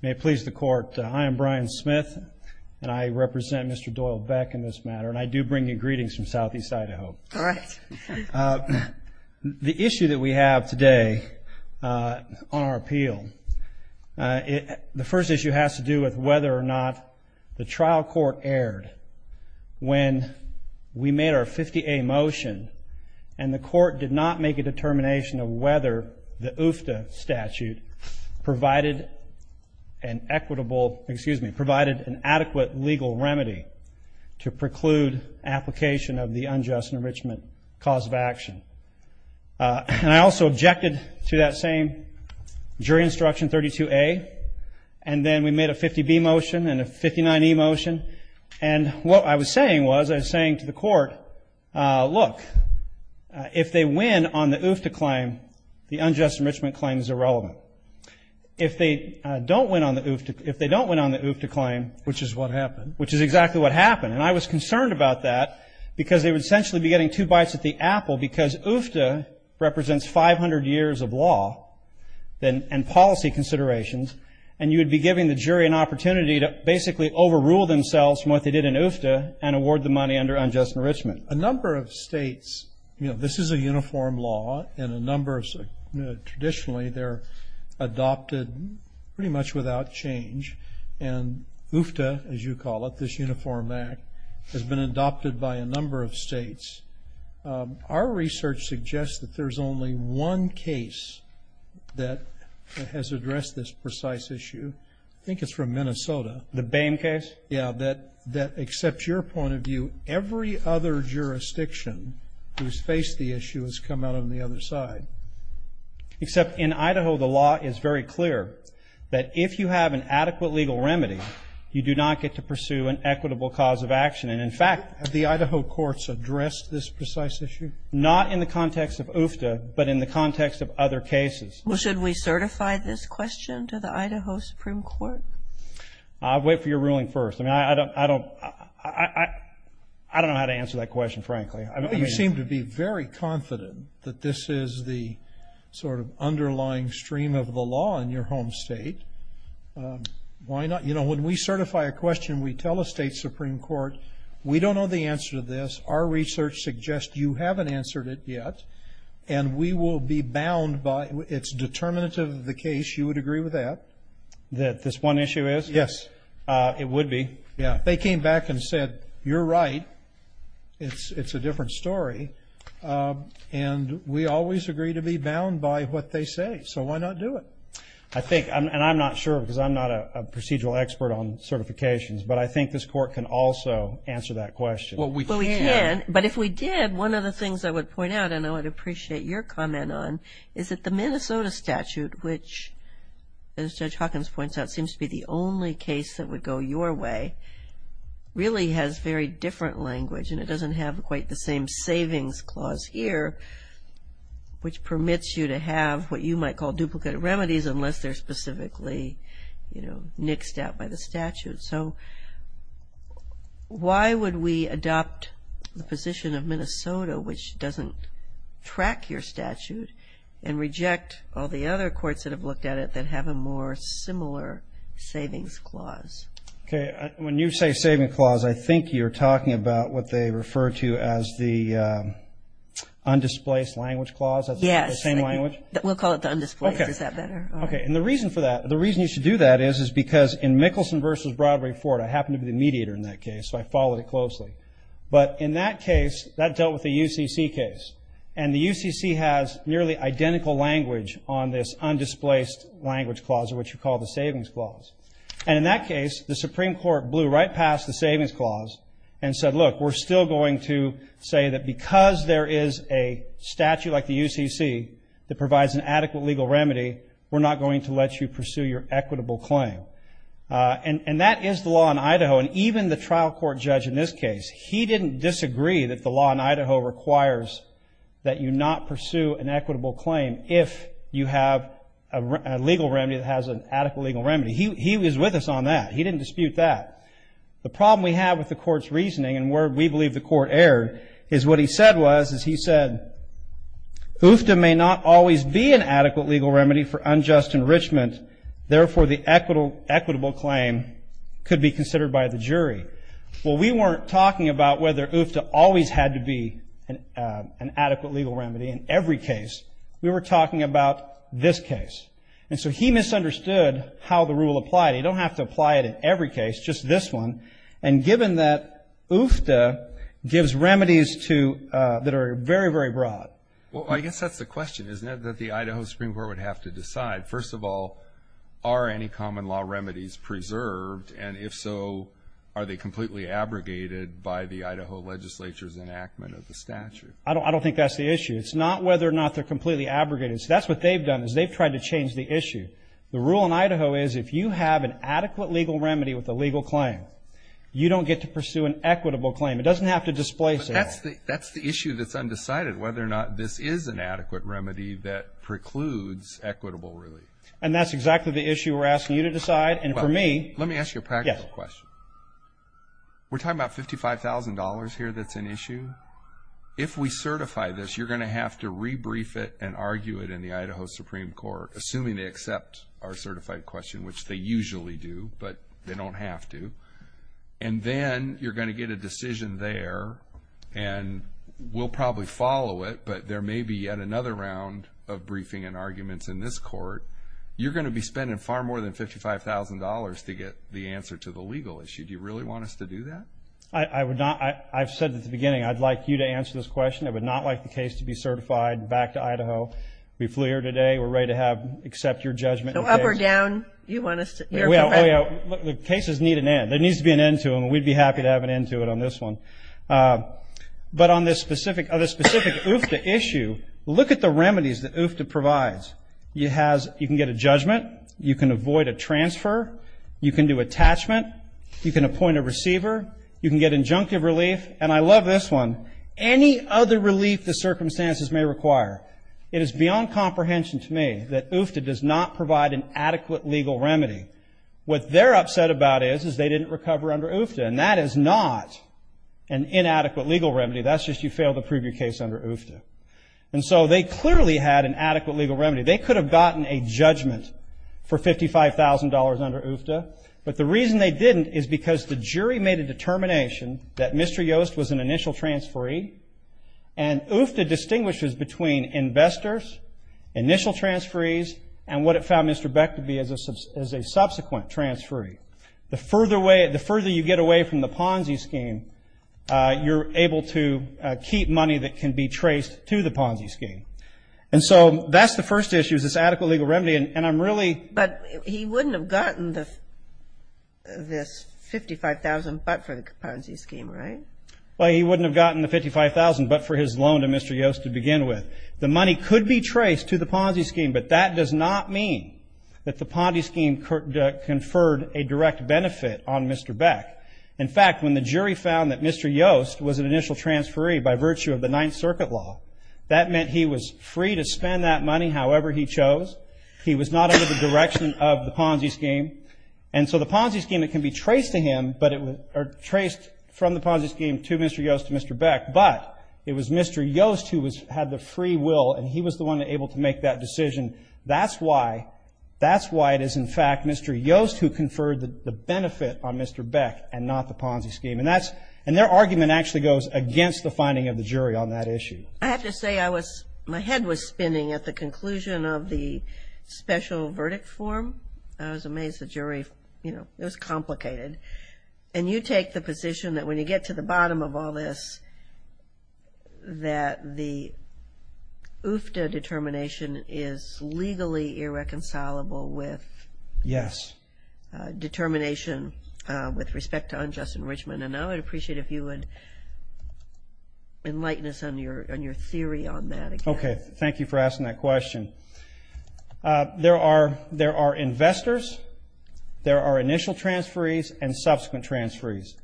May it please the Court, I am Brian Smith and I represent Mr. Doyle Beck in this matter and I do bring you greetings from Southeast Idaho. The issue that we have today on our appeal, the first issue has to do with whether or not the trial court erred when we made our 50A motion and the court did not make a determination of whether the UFTA statute provided an equitable, excuse me, provided an adequate legal remedy to preclude application of the unjust enrichment cause of action. And I also objected to that same jury instruction 32A and then we made a 50B motion and a 50B and a 59E motion and what I was saying was, I was saying to the court, look, if they win on the UFTA claim, the unjust enrichment claim is irrelevant. If they don't win on the UFTA claim, which is exactly what happened, and I was concerned about that because they would essentially be getting two bites at the apple because UFTA represents 500 years of law and policy considerations and you would be giving the jury an opportunity to basically overrule themselves from what they did in UFTA and award the money under unjust enrichment. A number of states, you know, this is a uniform law and a number of, traditionally they're adopted pretty much without change and UFTA, as you call it, this Uniform Act has been adopted by a number of states. Our research suggests that there's only one case that has addressed this precise issue. I think it's from Minnesota. The Bame case? Yeah, that except your point of view, every other jurisdiction who's faced the issue has come out on the other side. Except in Idaho, the law is very clear that if you have an adequate legal remedy, you do not get to pursue an equitable cause of action. And in fact, the Idaho courts addressed this precise issue. Not in the context of UFTA, but in the context of other cases. Well, should we certify this question to the Idaho Supreme Court? I'll wait for your ruling first. I mean, I don't know how to answer that question, frankly. You seem to be very confident that this is the sort of underlying stream of the law in your home state. Why not? You know, when we certify a question, we tell the state Supreme Court, we don't know the answer to this. Our research suggests you haven't answered it yet. And we will be bound by its determinants of the case. You would agree with that? That this one issue is? Yes, it would be. Yeah. They came back and said, you're right. It's a different story. And we always agree to be bound by what they say. So why not do it? I think, and I'm not sure, because I'm not a procedural expert on certifications, but I think this court can also answer that question. Well, we can. But if we did, one of the things I would point out, and I would appreciate your comment on, is that the Minnesota statute, which, as Judge Hawkins points out, seems to be the only case that would go your way, really has very different language. And it doesn't have quite the same savings clause here, which permits you to have what you might call duplicate remedies, unless they're specifically, you know, nixed out by the statute. So why would we adopt the position of Minnesota, which doesn't track your statute, and reject all the other courts that have looked at it that have a more similar savings clause? OK. When you say saving clause, I think you're talking about what they refer to as the undisplaced language clause. That's the same language? Yes. We'll call it the undisplaced. Is that better? OK. And the reason for that, the reason you should do that is, is because in Mickelson versus Broadway-Ford, I happened to be the mediator in that case, so I followed it closely. But in that case, that dealt with the UCC case. And the UCC has nearly identical language on this undisplaced language clause, or what you call the savings clause. And in that case, the Supreme Court blew right past the savings clause and said, look, we're still going to say that because there is a statute like the UCC that provides an adequate legal remedy, we're not going to let you pursue your equitable claim. And that is the law in Idaho. And even the trial court judge in this case, he didn't disagree that the law in Idaho requires that you not pursue an equitable claim if you have a legal remedy that has an adequate legal remedy. He was with us on that. He didn't dispute that. The problem we have with the court's reasoning, and where we believe the court erred, is what he said was, is he said, UFTA may not always be an adequate legal remedy for unjust enrichment, therefore, the equitable claim could be considered by the jury. Well, we weren't talking about whether UFTA always had to be an adequate legal remedy in every case, we were talking about this case. And so he misunderstood how the rule applied. You don't have to apply it in every case, just this one. And given that UFTA gives remedies to, that are very, very broad. Well, I guess that's the question, isn't it, that the Idaho Supreme Court would have to decide. First of all, are any common law remedies preserved? And if so, are they completely abrogated by the Idaho legislature's enactment of the statute? I don't think that's the issue. It's not whether or not they're completely abrogated. So that's what they've done, is they've tried to change the issue. The rule in Idaho is, if you have an adequate legal remedy with a legal claim, you don't get to pursue an equitable claim. It doesn't have to displace it at all. That's the issue that's undecided, whether or not this is an adequate remedy that precludes equitable relief. And that's exactly the issue we're asking you to decide, and for me. Let me ask you a practical question. We're talking about $55,000 here that's an issue. If we certify this, you're going to have to rebrief it and argue it in the Idaho Supreme Court, assuming they accept our certified question, which they usually do, but they don't have to. And then you're going to get a decision there, and we'll probably follow it, but there may be yet another round of briefing and arguments in this court. You're going to be spending far more than $55,000 to get the answer to the legal issue. Do you really want us to do that? I would not. I've said at the beginning, I'd like you to answer this question. I would not like the case to be certified back to Idaho. Be clear today. We're ready to accept your judgment. So, up or down? You want us to? Oh, yeah. The cases need an end. There needs to be an end to them, and we'd be happy to have an end to it on this one. But on this specific UFTA issue, look at the remedies that UFTA provides. You can get a judgment. You can avoid a transfer. You can do attachment. You can appoint a receiver. You can get injunctive relief. And I love this one. Any other relief the circumstances may require. It is beyond comprehension to me that UFTA does not provide an adequate legal remedy. What they're upset about is, is they didn't recover under UFTA. And that is not an inadequate legal remedy. That's just you failed to prove your case under UFTA. And so, they clearly had an adequate legal remedy. They could have gotten a judgment for $55,000 under UFTA. But the reason they didn't is because the jury made a determination that Mr. Yost was an initial transferee. And UFTA distinguishes between investors, initial transferees, and what it found Mr. Beck to be as a subsequent transferee. The further you get away from the Ponzi scheme, you're able to keep money that can be traced to the Ponzi scheme. And so, that's the first issue, is this adequate legal remedy, and I'm really- But he wouldn't have gotten this $55,000 but for the Ponzi scheme, right? Well, he wouldn't have gotten the $55,000 but for his loan to Mr. Yost to begin with. The money could be traced to the Ponzi scheme, but that does not mean that the Ponzi scheme conferred a direct benefit on Mr. Beck. In fact, when the jury found that Mr. Yost was an initial transferee by virtue of the Ninth Circuit law, that meant he was free to spend that money however he chose. He was not under the direction of the Ponzi scheme. And so, the Ponzi scheme, it can be traced to him, but traced from the Ponzi scheme to Mr. Yost, to Mr. Beck, but it was Mr. Yost who had the free will and he was the one able to make that decision. That's why it is, in fact, Mr. Yost who conferred the benefit on Mr. Beck and not the Ponzi scheme. And their argument actually goes against the finding of the jury on that issue. I have to say, my head was spinning at the conclusion of the special verdict form. I was amazed the jury, you know, it was complicated. And you take the position that when you get to the bottom of all this, that the UFTA determination is legally irreconcilable with- Yes. Determination with respect to unjust enrichment. And I would appreciate if you would enlighten us on your theory on that. Okay, thank you for asking that question. There are investors, there are initial transferees, and subsequent transferees.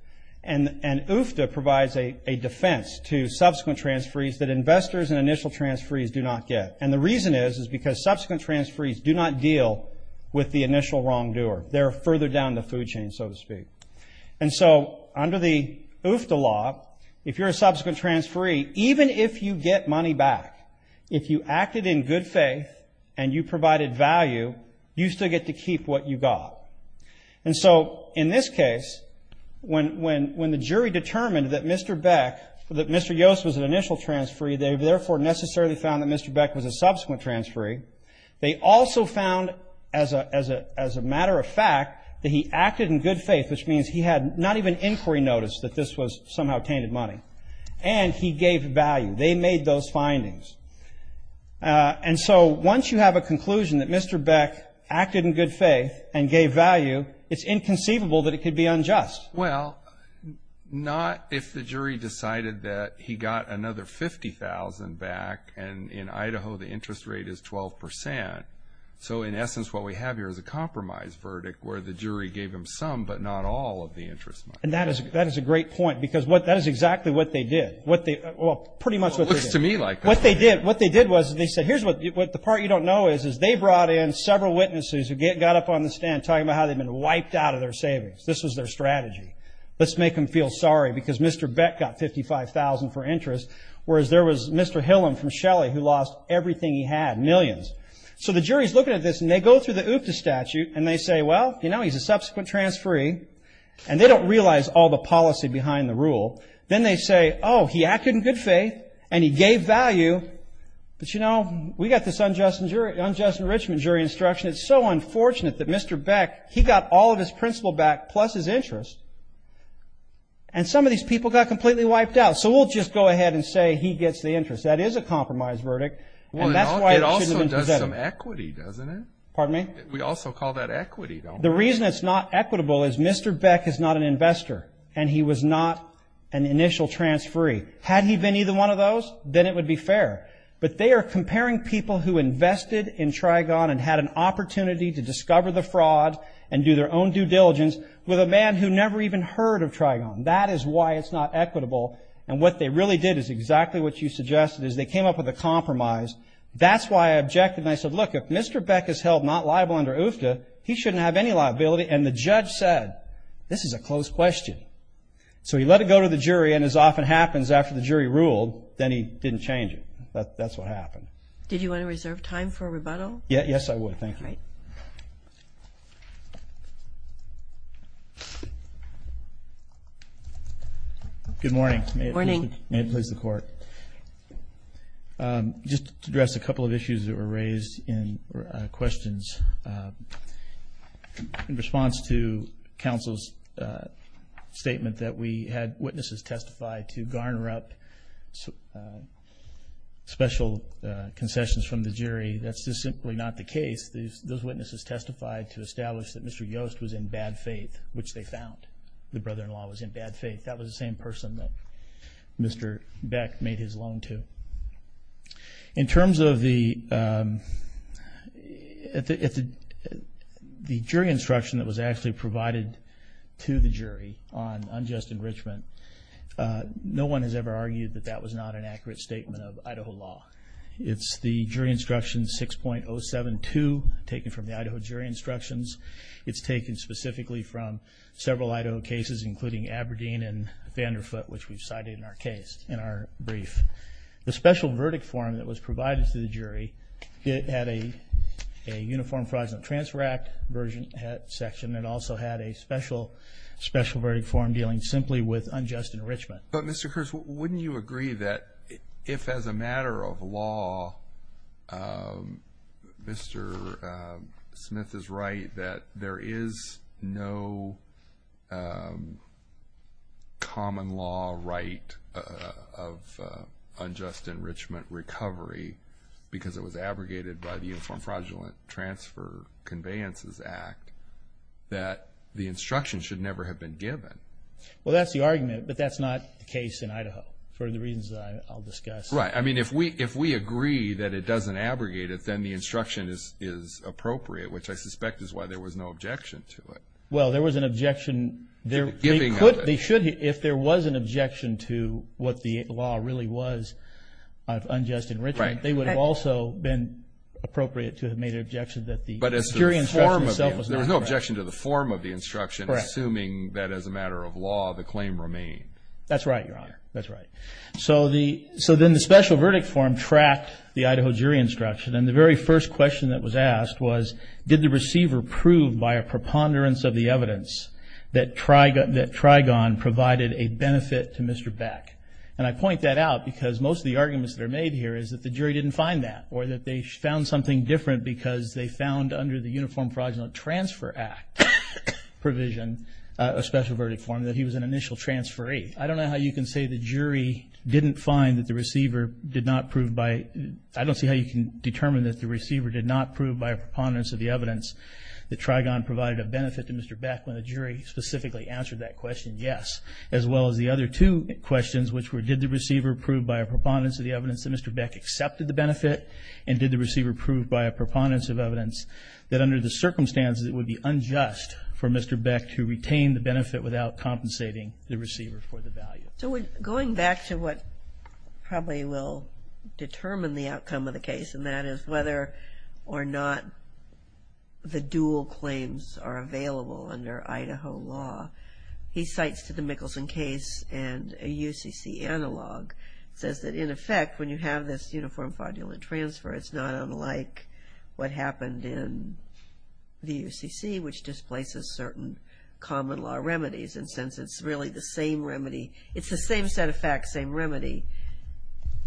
And UFTA provides a defense to subsequent transferees that investors and initial transferees do not get. And the reason is, is because subsequent transferees do not deal with the initial wrongdoer. They're further down the food chain, so to speak. And so, under the UFTA law, if you're a subsequent transferee, even if you get money back, if you acted in good faith and you provided value, you still get to keep what you got. And so, in this case, when the jury determined that Mr. Beck, that Mr. Yost was an initial transferee, they therefore necessarily found that Mr. Beck was a subsequent transferee. They also found, as a matter of fact, that he acted in good faith, which means he had not even inquiry notice that this was somehow tainted money. And he gave value. They made those findings. And so, once you have a conclusion that Mr. Beck acted in good faith and gave value, it's inconceivable that it could be unjust. Well, not if the jury decided that he got another 50,000 back and in Idaho, the interest rate is 12%. So, in essence, what we have here is a compromise verdict, where the jury gave him some, but not all of the interest money. And that is a great point, because that is exactly what they did. Well, pretty much what they did. It looks to me like that. What they did was, they said, here's what the part you don't know is, is they brought in several witnesses who got up on the stand, talking about how they'd been wiped out of their savings. This was their strategy. Let's make them feel sorry, because Mr. Beck got 55,000 for interest. Whereas there was Mr. Hillam from Shelly, who lost everything he had, millions. So the jury's looking at this, and they go through the OOPDA statute, and they say, well, he's a subsequent transferee. And they don't realize all the policy behind the rule. Then they say, he acted in good faith, and he gave value. But you know, we got this unjust enrichment jury instruction. It's so unfortunate that Mr. Beck, he got all of his principal back, plus his interest, and some of these people got completely wiped out. So we'll just go ahead and say he gets the interest. That is a compromise verdict, and that's why it shouldn't have been presented. It also does some equity, doesn't it? Pardon me? We also call that equity, don't we? The reason it's not equitable is Mr. Beck is not an investor, and he was not an initial transferee. Had he been either one of those, then it would be fair. But they are comparing people who invested in Trigon and had an opportunity to discover the fraud, and do their own due diligence, with a man who never even heard of Trigon. That is why it's not equitable. And what they really did is exactly what you suggested, is they came up with a compromise. That's why I objected, and I said, look, if Mr. Beck is held not liable under OOPDA, he shouldn't have any liability. And the judge said, this is a close question. So he let it go to the jury, and as often happens after the jury ruled, then he didn't change it. That's what happened. Did you want to reserve time for a rebuttal? Yes, I would. Thank you. All right. Good morning. Morning. May it please the court. Good morning. Just to address a couple of issues that were raised in questions. In response to counsel's statement that we had witnesses testify to garner up special concessions from the jury, that's just simply not the case. Those witnesses testified to establish that Mr. Yost was in bad faith, which they found. The brother-in-law was in bad faith. That was the same person that Mr. Beck made his loan to. In terms of the jury instruction that was actually provided to the jury on unjust enrichment, no one has ever argued that that was not an accurate statement of Idaho law. It's the jury instruction 6.072 taken from the Idaho jury instructions. It's taken specifically from several Idaho cases, including Aberdeen and Vanderfoot, which we've cited in our brief. The special verdict form that was provided to the jury, it had a Uniform Fraud and Transfer Act section. It also had a special verdict form dealing simply with unjust enrichment. But Mr. Kurtz, wouldn't you agree that if, as a matter of law, Mr. Smith is right that there is no common law right of unjust enrichment recovery, because it was abrogated by the Uniform Fraudulent Transfer Conveyances Act, that the instruction should never have been given? Well, that's the argument, but that's not the case in Idaho, for the reasons that I'll discuss. Right. I mean, if we agree that it doesn't abrogate it, then the instruction is appropriate, which I suspect is why there was no objection to it. Well, there was an objection. If there was an objection to what the law really was of unjust enrichment, they would have also been appropriate to have made an objection that the jury instruction itself was not correct. There was no objection to the form of the instruction, assuming that, as a matter of law, the claim remained. That's right, Your Honor. That's right. So then the special verdict form tracked the Idaho jury instruction, and the very first question that was asked was, did the receiver prove by a preponderance of the evidence that Trigon provided a benefit to Mr. Beck? And I point that out, because most of the arguments that are made here is that the jury didn't find that, or that they found something different because they found, under the Uniform Fraudulent Transfer Act provision, a special verdict form, that he was an initial transferee. I don't know how you can say the jury didn't find that the receiver did not prove by, I don't see how you can determine that the receiver did not prove by a preponderance of the evidence that Trigon provided a benefit to Mr. Beck when a jury specifically answered that question, yes. As well as the other two questions, which were, did the receiver prove by a preponderance of the evidence that Mr. Beck accepted the benefit? And did the receiver prove by a preponderance of evidence that, under the circumstances, it would be unjust for Mr. Beck to retain the benefit without compensating the receiver for the value? So going back to what probably will determine the outcome of the case, and that is whether or not the dual claims are available under Idaho law, he cites to the Mickelson case, and a UCC analog, says that, in effect, when you have this Uniform Fraudulent Transfer, it's not unlike what happened in the UCC, which displaces certain common law remedies. And since it's really the same remedy, it's the same set of facts, same remedy,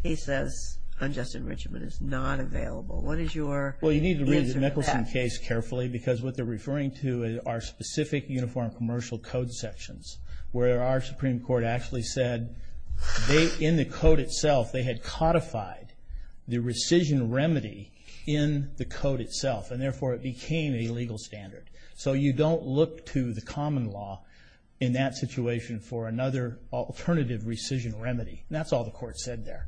he says unjust enrichment is not available. What is your answer to that? Well, you need to read the Mickelson case carefully, because what they're referring to are specific Uniform Commercial Code sections, where our Supreme Court actually said, in the code itself, they had codified the rescission remedy in the code itself, and therefore it became a legal standard. So you don't look to the common law in that situation for another alternative rescission remedy. That's all the court said there.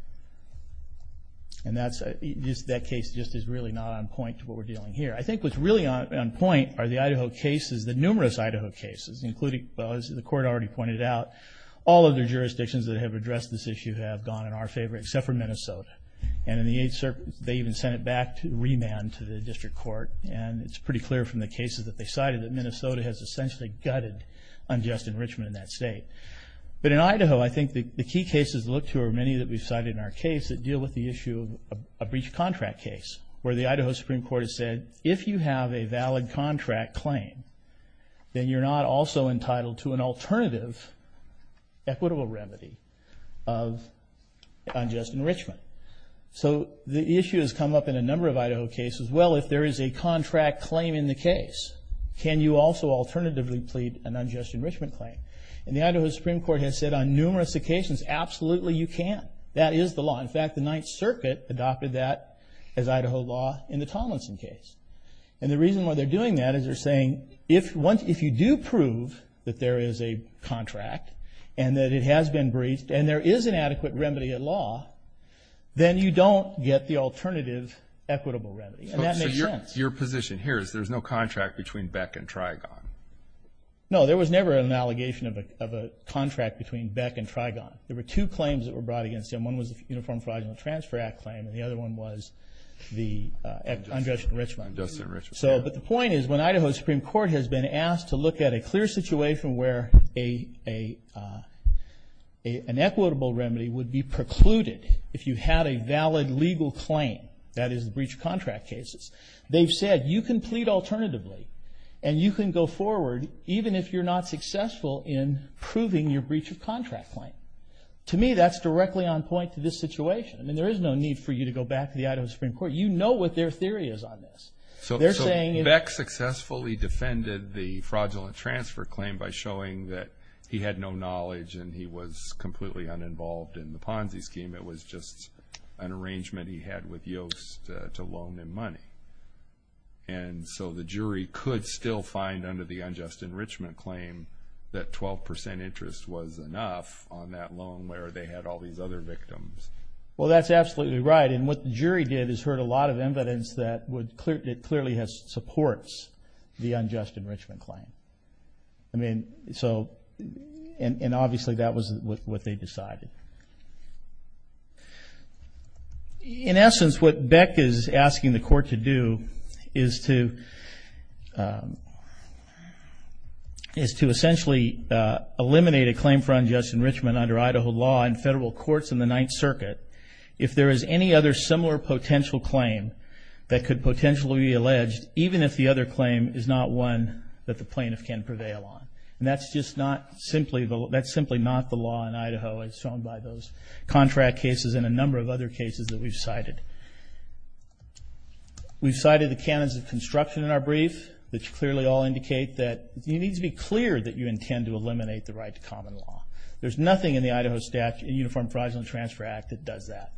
And that case just is really not on point to what we're dealing here. I think what's really on point are the Idaho cases, the numerous Idaho cases, including, as the court already pointed out, all of the jurisdictions that have addressed this issue have gone in our favor, except for Minnesota. And in the eighth circuit, they even sent it back to remand to the district court. And it's pretty clear from the cases that they cited that Minnesota has essentially gutted unjust enrichment in that state. But in Idaho, I think the key cases to look to are many that we've cited in our case that deal with the issue of a breach contract case, where the Idaho Supreme Court has said, if you have a valid contract claim, then you're not also entitled to an alternative equitable remedy of unjust enrichment. So the issue has come up in a number of Idaho cases. Well, if there is a contract claim in the case, can you also alternatively plead an unjust enrichment claim? And the Idaho Supreme Court has said on numerous occasions, absolutely you can. That is the law. In fact, the Ninth Circuit adopted that as Idaho law in the Tomlinson case. And the reason why they're doing that is they're saying, if you do prove that there is a contract and that it has been breached and there is an adequate remedy at law, then you don't get the alternative equitable remedy. And that makes sense. Your position here is there's no contract between Beck and Trigon. No, there was never an allegation of a contract between Beck and Trigon. There were two claims that were brought against them. One was the Uniform Fraud and Transfer Act claim, and the other one was the unjust enrichment. Unjust enrichment. But the point is, when Idaho Supreme Court has been asked to look at a clear situation where an equitable remedy would be precluded if you had a valid legal claim, that is the breach of contract cases, they've said, you can plead alternatively. And you can go forward even if you're not successful in proving your breach of contract claim. To me, that's directly on point to this situation. I mean, there is no need for you to go back to the Idaho Supreme Court. You know what their theory is on this. So Beck successfully defended the fraudulent transfer claim by showing that he had no knowledge and he was completely uninvolved in the Ponzi scheme. It was just an arrangement he had with Yost to loan him money. And so the jury could still find under the unjust enrichment claim that 12% interest was enough on that loan where they had all these other victims. Well, that's absolutely right. And what the jury did is heard a lot of evidence that clearly supports the unjust enrichment claim. I mean, so, and obviously that was what they decided. In essence, what Beck is asking the court to do is to essentially eliminate a claim for unjust enrichment under Idaho law and federal courts in the Ninth Circuit. If there is any other similar potential claim that could potentially be alleged, even if the other claim is not one that the plaintiff can prevail on. And that's just not simply, that's simply not the law in Idaho as shown by those contract cases and a number of other cases that we've cited. We've cited the canons of construction in our brief, which clearly all indicate that you need to be clear that you intend to eliminate the right to common law. There's nothing in the Idaho Statute, Uniform Fraud and Transfer Act, that does that.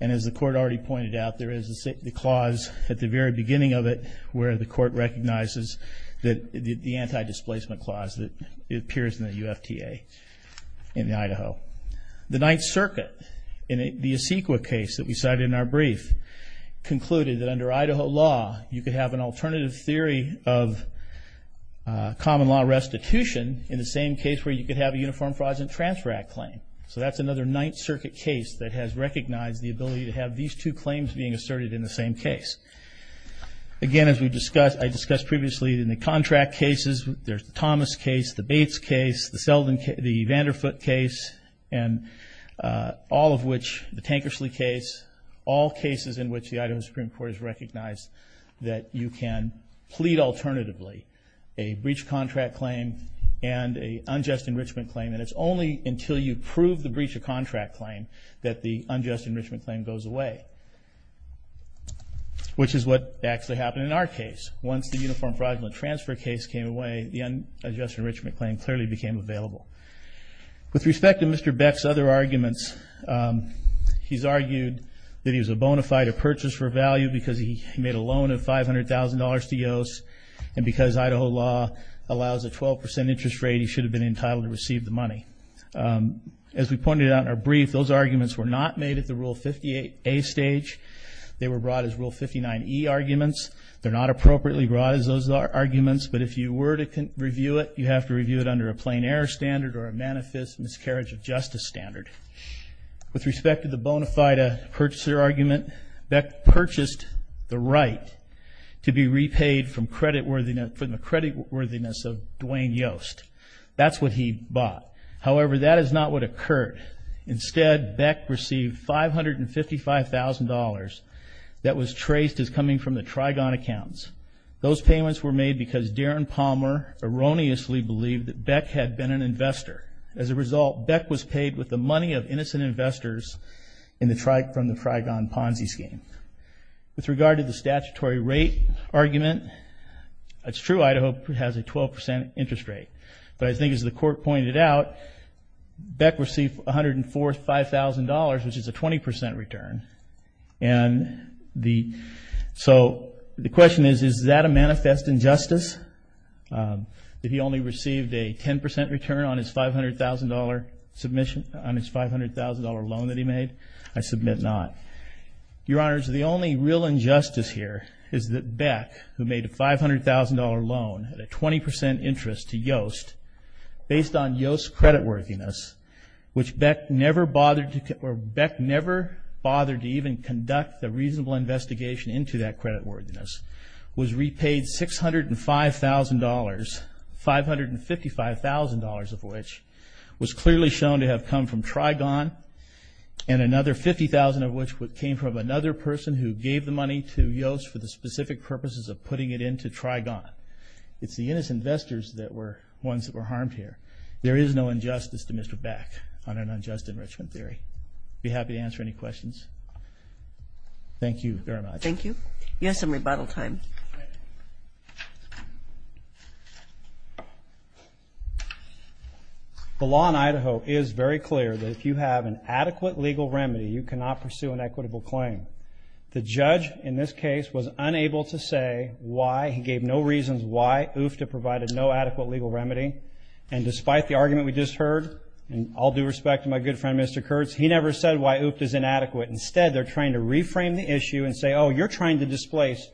And as the court already pointed out, there is the clause at the very beginning of it, where the court recognizes that the anti-displacement clause appears in the UFTA in Idaho. The Ninth Circuit, in the ECEQA case that we cited in our brief, concluded that under Idaho law, you could have an alternative theory of Uniform Fraud and Transfer Act claim. So that's another Ninth Circuit case that has recognized the ability to have these two claims being asserted in the same case. Again, as we discussed, I discussed previously in the contract cases, there's the Thomas case, the Bates case, the Vanderfoot case, and all of which, the Tankersley case, all cases in which the Idaho Supreme Court has recognized that you can plead alternatively a breach contract claim and a unjust enrichment claim. And it's only until you prove the breach of contract claim that the unjust enrichment claim goes away. Which is what actually happened in our case. Once the Uniform Fraud and Transfer case came away, the unjust enrichment claim clearly became available. With respect to Mr. Beck's other arguments, he's argued that he was a bona fide a purchase for value because he made a loan of $500,000 to Yost. And because Idaho law allows a 12% interest rate, he should have been entitled to receive the money. As we pointed out in our brief, those arguments were not made at the Rule 58A stage. They were brought as Rule 59E arguments. They're not appropriately brought as those arguments. But if you were to review it, you have to review it under a plain error standard or a manifest miscarriage of justice standard. With respect to the bona fide a purchaser argument, Beck purchased the right to be repaid from the creditworthiness of Duane Yost. That's what he bought. However, that is not what occurred. Instead, Beck received $555,000 that was traced as coming from the Trigon accounts. Those payments were made because Darren Palmer erroneously believed that Beck had been an investor. As a result, Beck was paid with the money of innocent investors in the Trigon Ponzi scheme. With regard to the statutory rate argument, it's true Idaho has a 12% interest rate. But I think as the court pointed out, Beck received $104,000, $5,000, which is a 20% return. And so the question is, is that a manifest injustice? That he only received a 10% return on his $500,000 submission, on his $500,000 loan that he made? I submit not. Your Honors, the only real injustice here is that Beck, who made a $500,000 loan at a 20% interest to Yost, based on Yost's creditworthiness, which Beck never bothered to, or Beck never bothered to even conduct the reasonable investigation into that creditworthiness, was repaid $605,000, $555,000 of which was clearly shown to have come from Trigon, and another $50,000 of which came from another person who gave the money to Yost for the specific purposes of putting it into Trigon. It's the innocent investors that were ones that were harmed here. There is no injustice to Mr. Beck on an unjust enrichment theory. I'd be happy to answer any questions. Thank you very much. Thank you. You have some rebuttal time. The law in Idaho is very clear that if you have an adequate legal remedy, you cannot pursue an equitable claim. The judge in this case was unable to say why. He gave no reasons why UFTDA provided no adequate legal remedy. And despite the argument we just heard, and all due respect to my good friend, Mr. Kurtz, he never said why UFTDA is inadequate. Instead, they're trying to reframe the issue and say, oh, you're trying to displace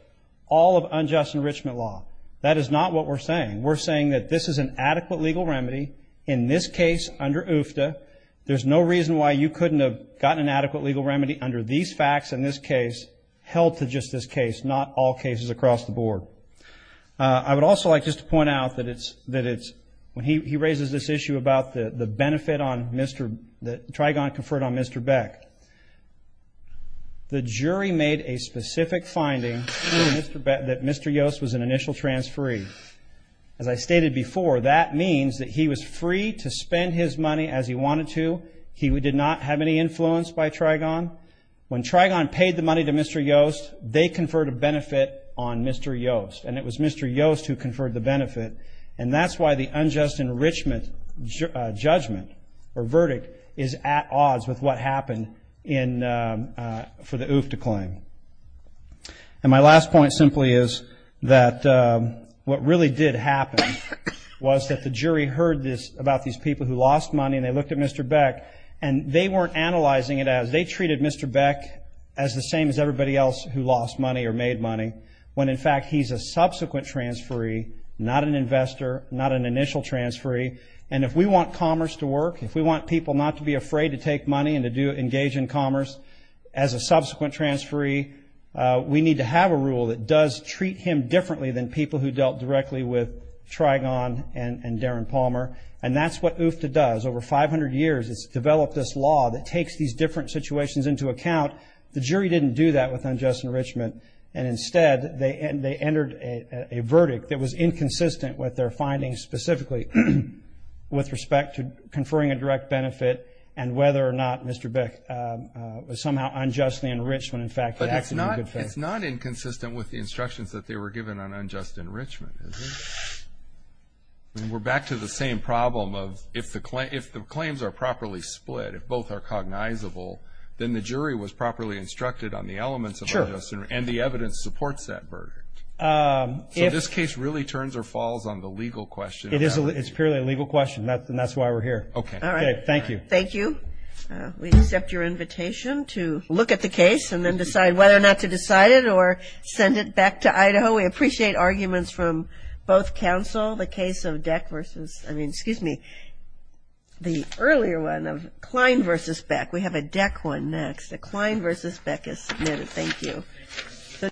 all of unjust enrichment law. That is not what we're saying. We're saying that this is an adequate legal remedy in this case under UFTDA. There's no reason why you couldn't have gotten an adequate legal remedy under these facts in this case, held to just this case, not all cases across the board. I would also like just to point out that it's when he raises this issue about the benefit that Trigon conferred on Mr. Beck. The jury made a specific finding that Mr. Yost was an initial transferee. As I stated before, that means that he was free to spend his money as he wanted to. He did not have any influence by Trigon. When Trigon paid the money to Mr. Yost, they conferred a benefit on Mr. Yost. And it was Mr. Yost who conferred the benefit. And that's why the unjust enrichment judgment or verdict is at odds with what happened for the UFTDA claim. And my last point simply is that what really did happen was that the jury heard this about these people who lost money and they looked at Mr. Beck and they weren't analyzing it as, they treated Mr. Beck as the same as everybody else who lost money or made money. When in fact, he's a subsequent transferee, not an investor, not an initial transferee. And if we want commerce to work, if we want people not to be afraid to take money and to engage in commerce as a subsequent transferee, we need to have a rule that does treat him differently than people who dealt directly with Trigon and Darren Palmer. And that's what UFTDA does. Over 500 years, it's developed this law that takes these different situations into account. The jury didn't do that with unjust enrichment. And instead, they entered a verdict that was inconsistent with their findings specifically with respect to conferring a direct benefit and whether or not Mr. Beck was somehow unjustly enriched when, in fact, he acted in good faith. But it's not inconsistent with the instructions that they were given on unjust enrichment, is it? I mean, we're back to the same problem of if the claims are properly split, if both are cognizable, then the jury was properly instructed on the elements of unjust enrichment, and the evidence supports that verdict. So this case really turns or falls on the legal question. It is. It's purely a legal question. And that's why we're here. Okay. All right. Thank you. Thank you. We accept your invitation to look at the case and then decide whether or not to decide it or send it back to Idaho. We appreciate arguments from both counsel. The case of Deck versus, I mean, excuse me, the earlier one of Klein versus Beck. We have a Deck one next. The Klein versus Beck is submitted. Thank you.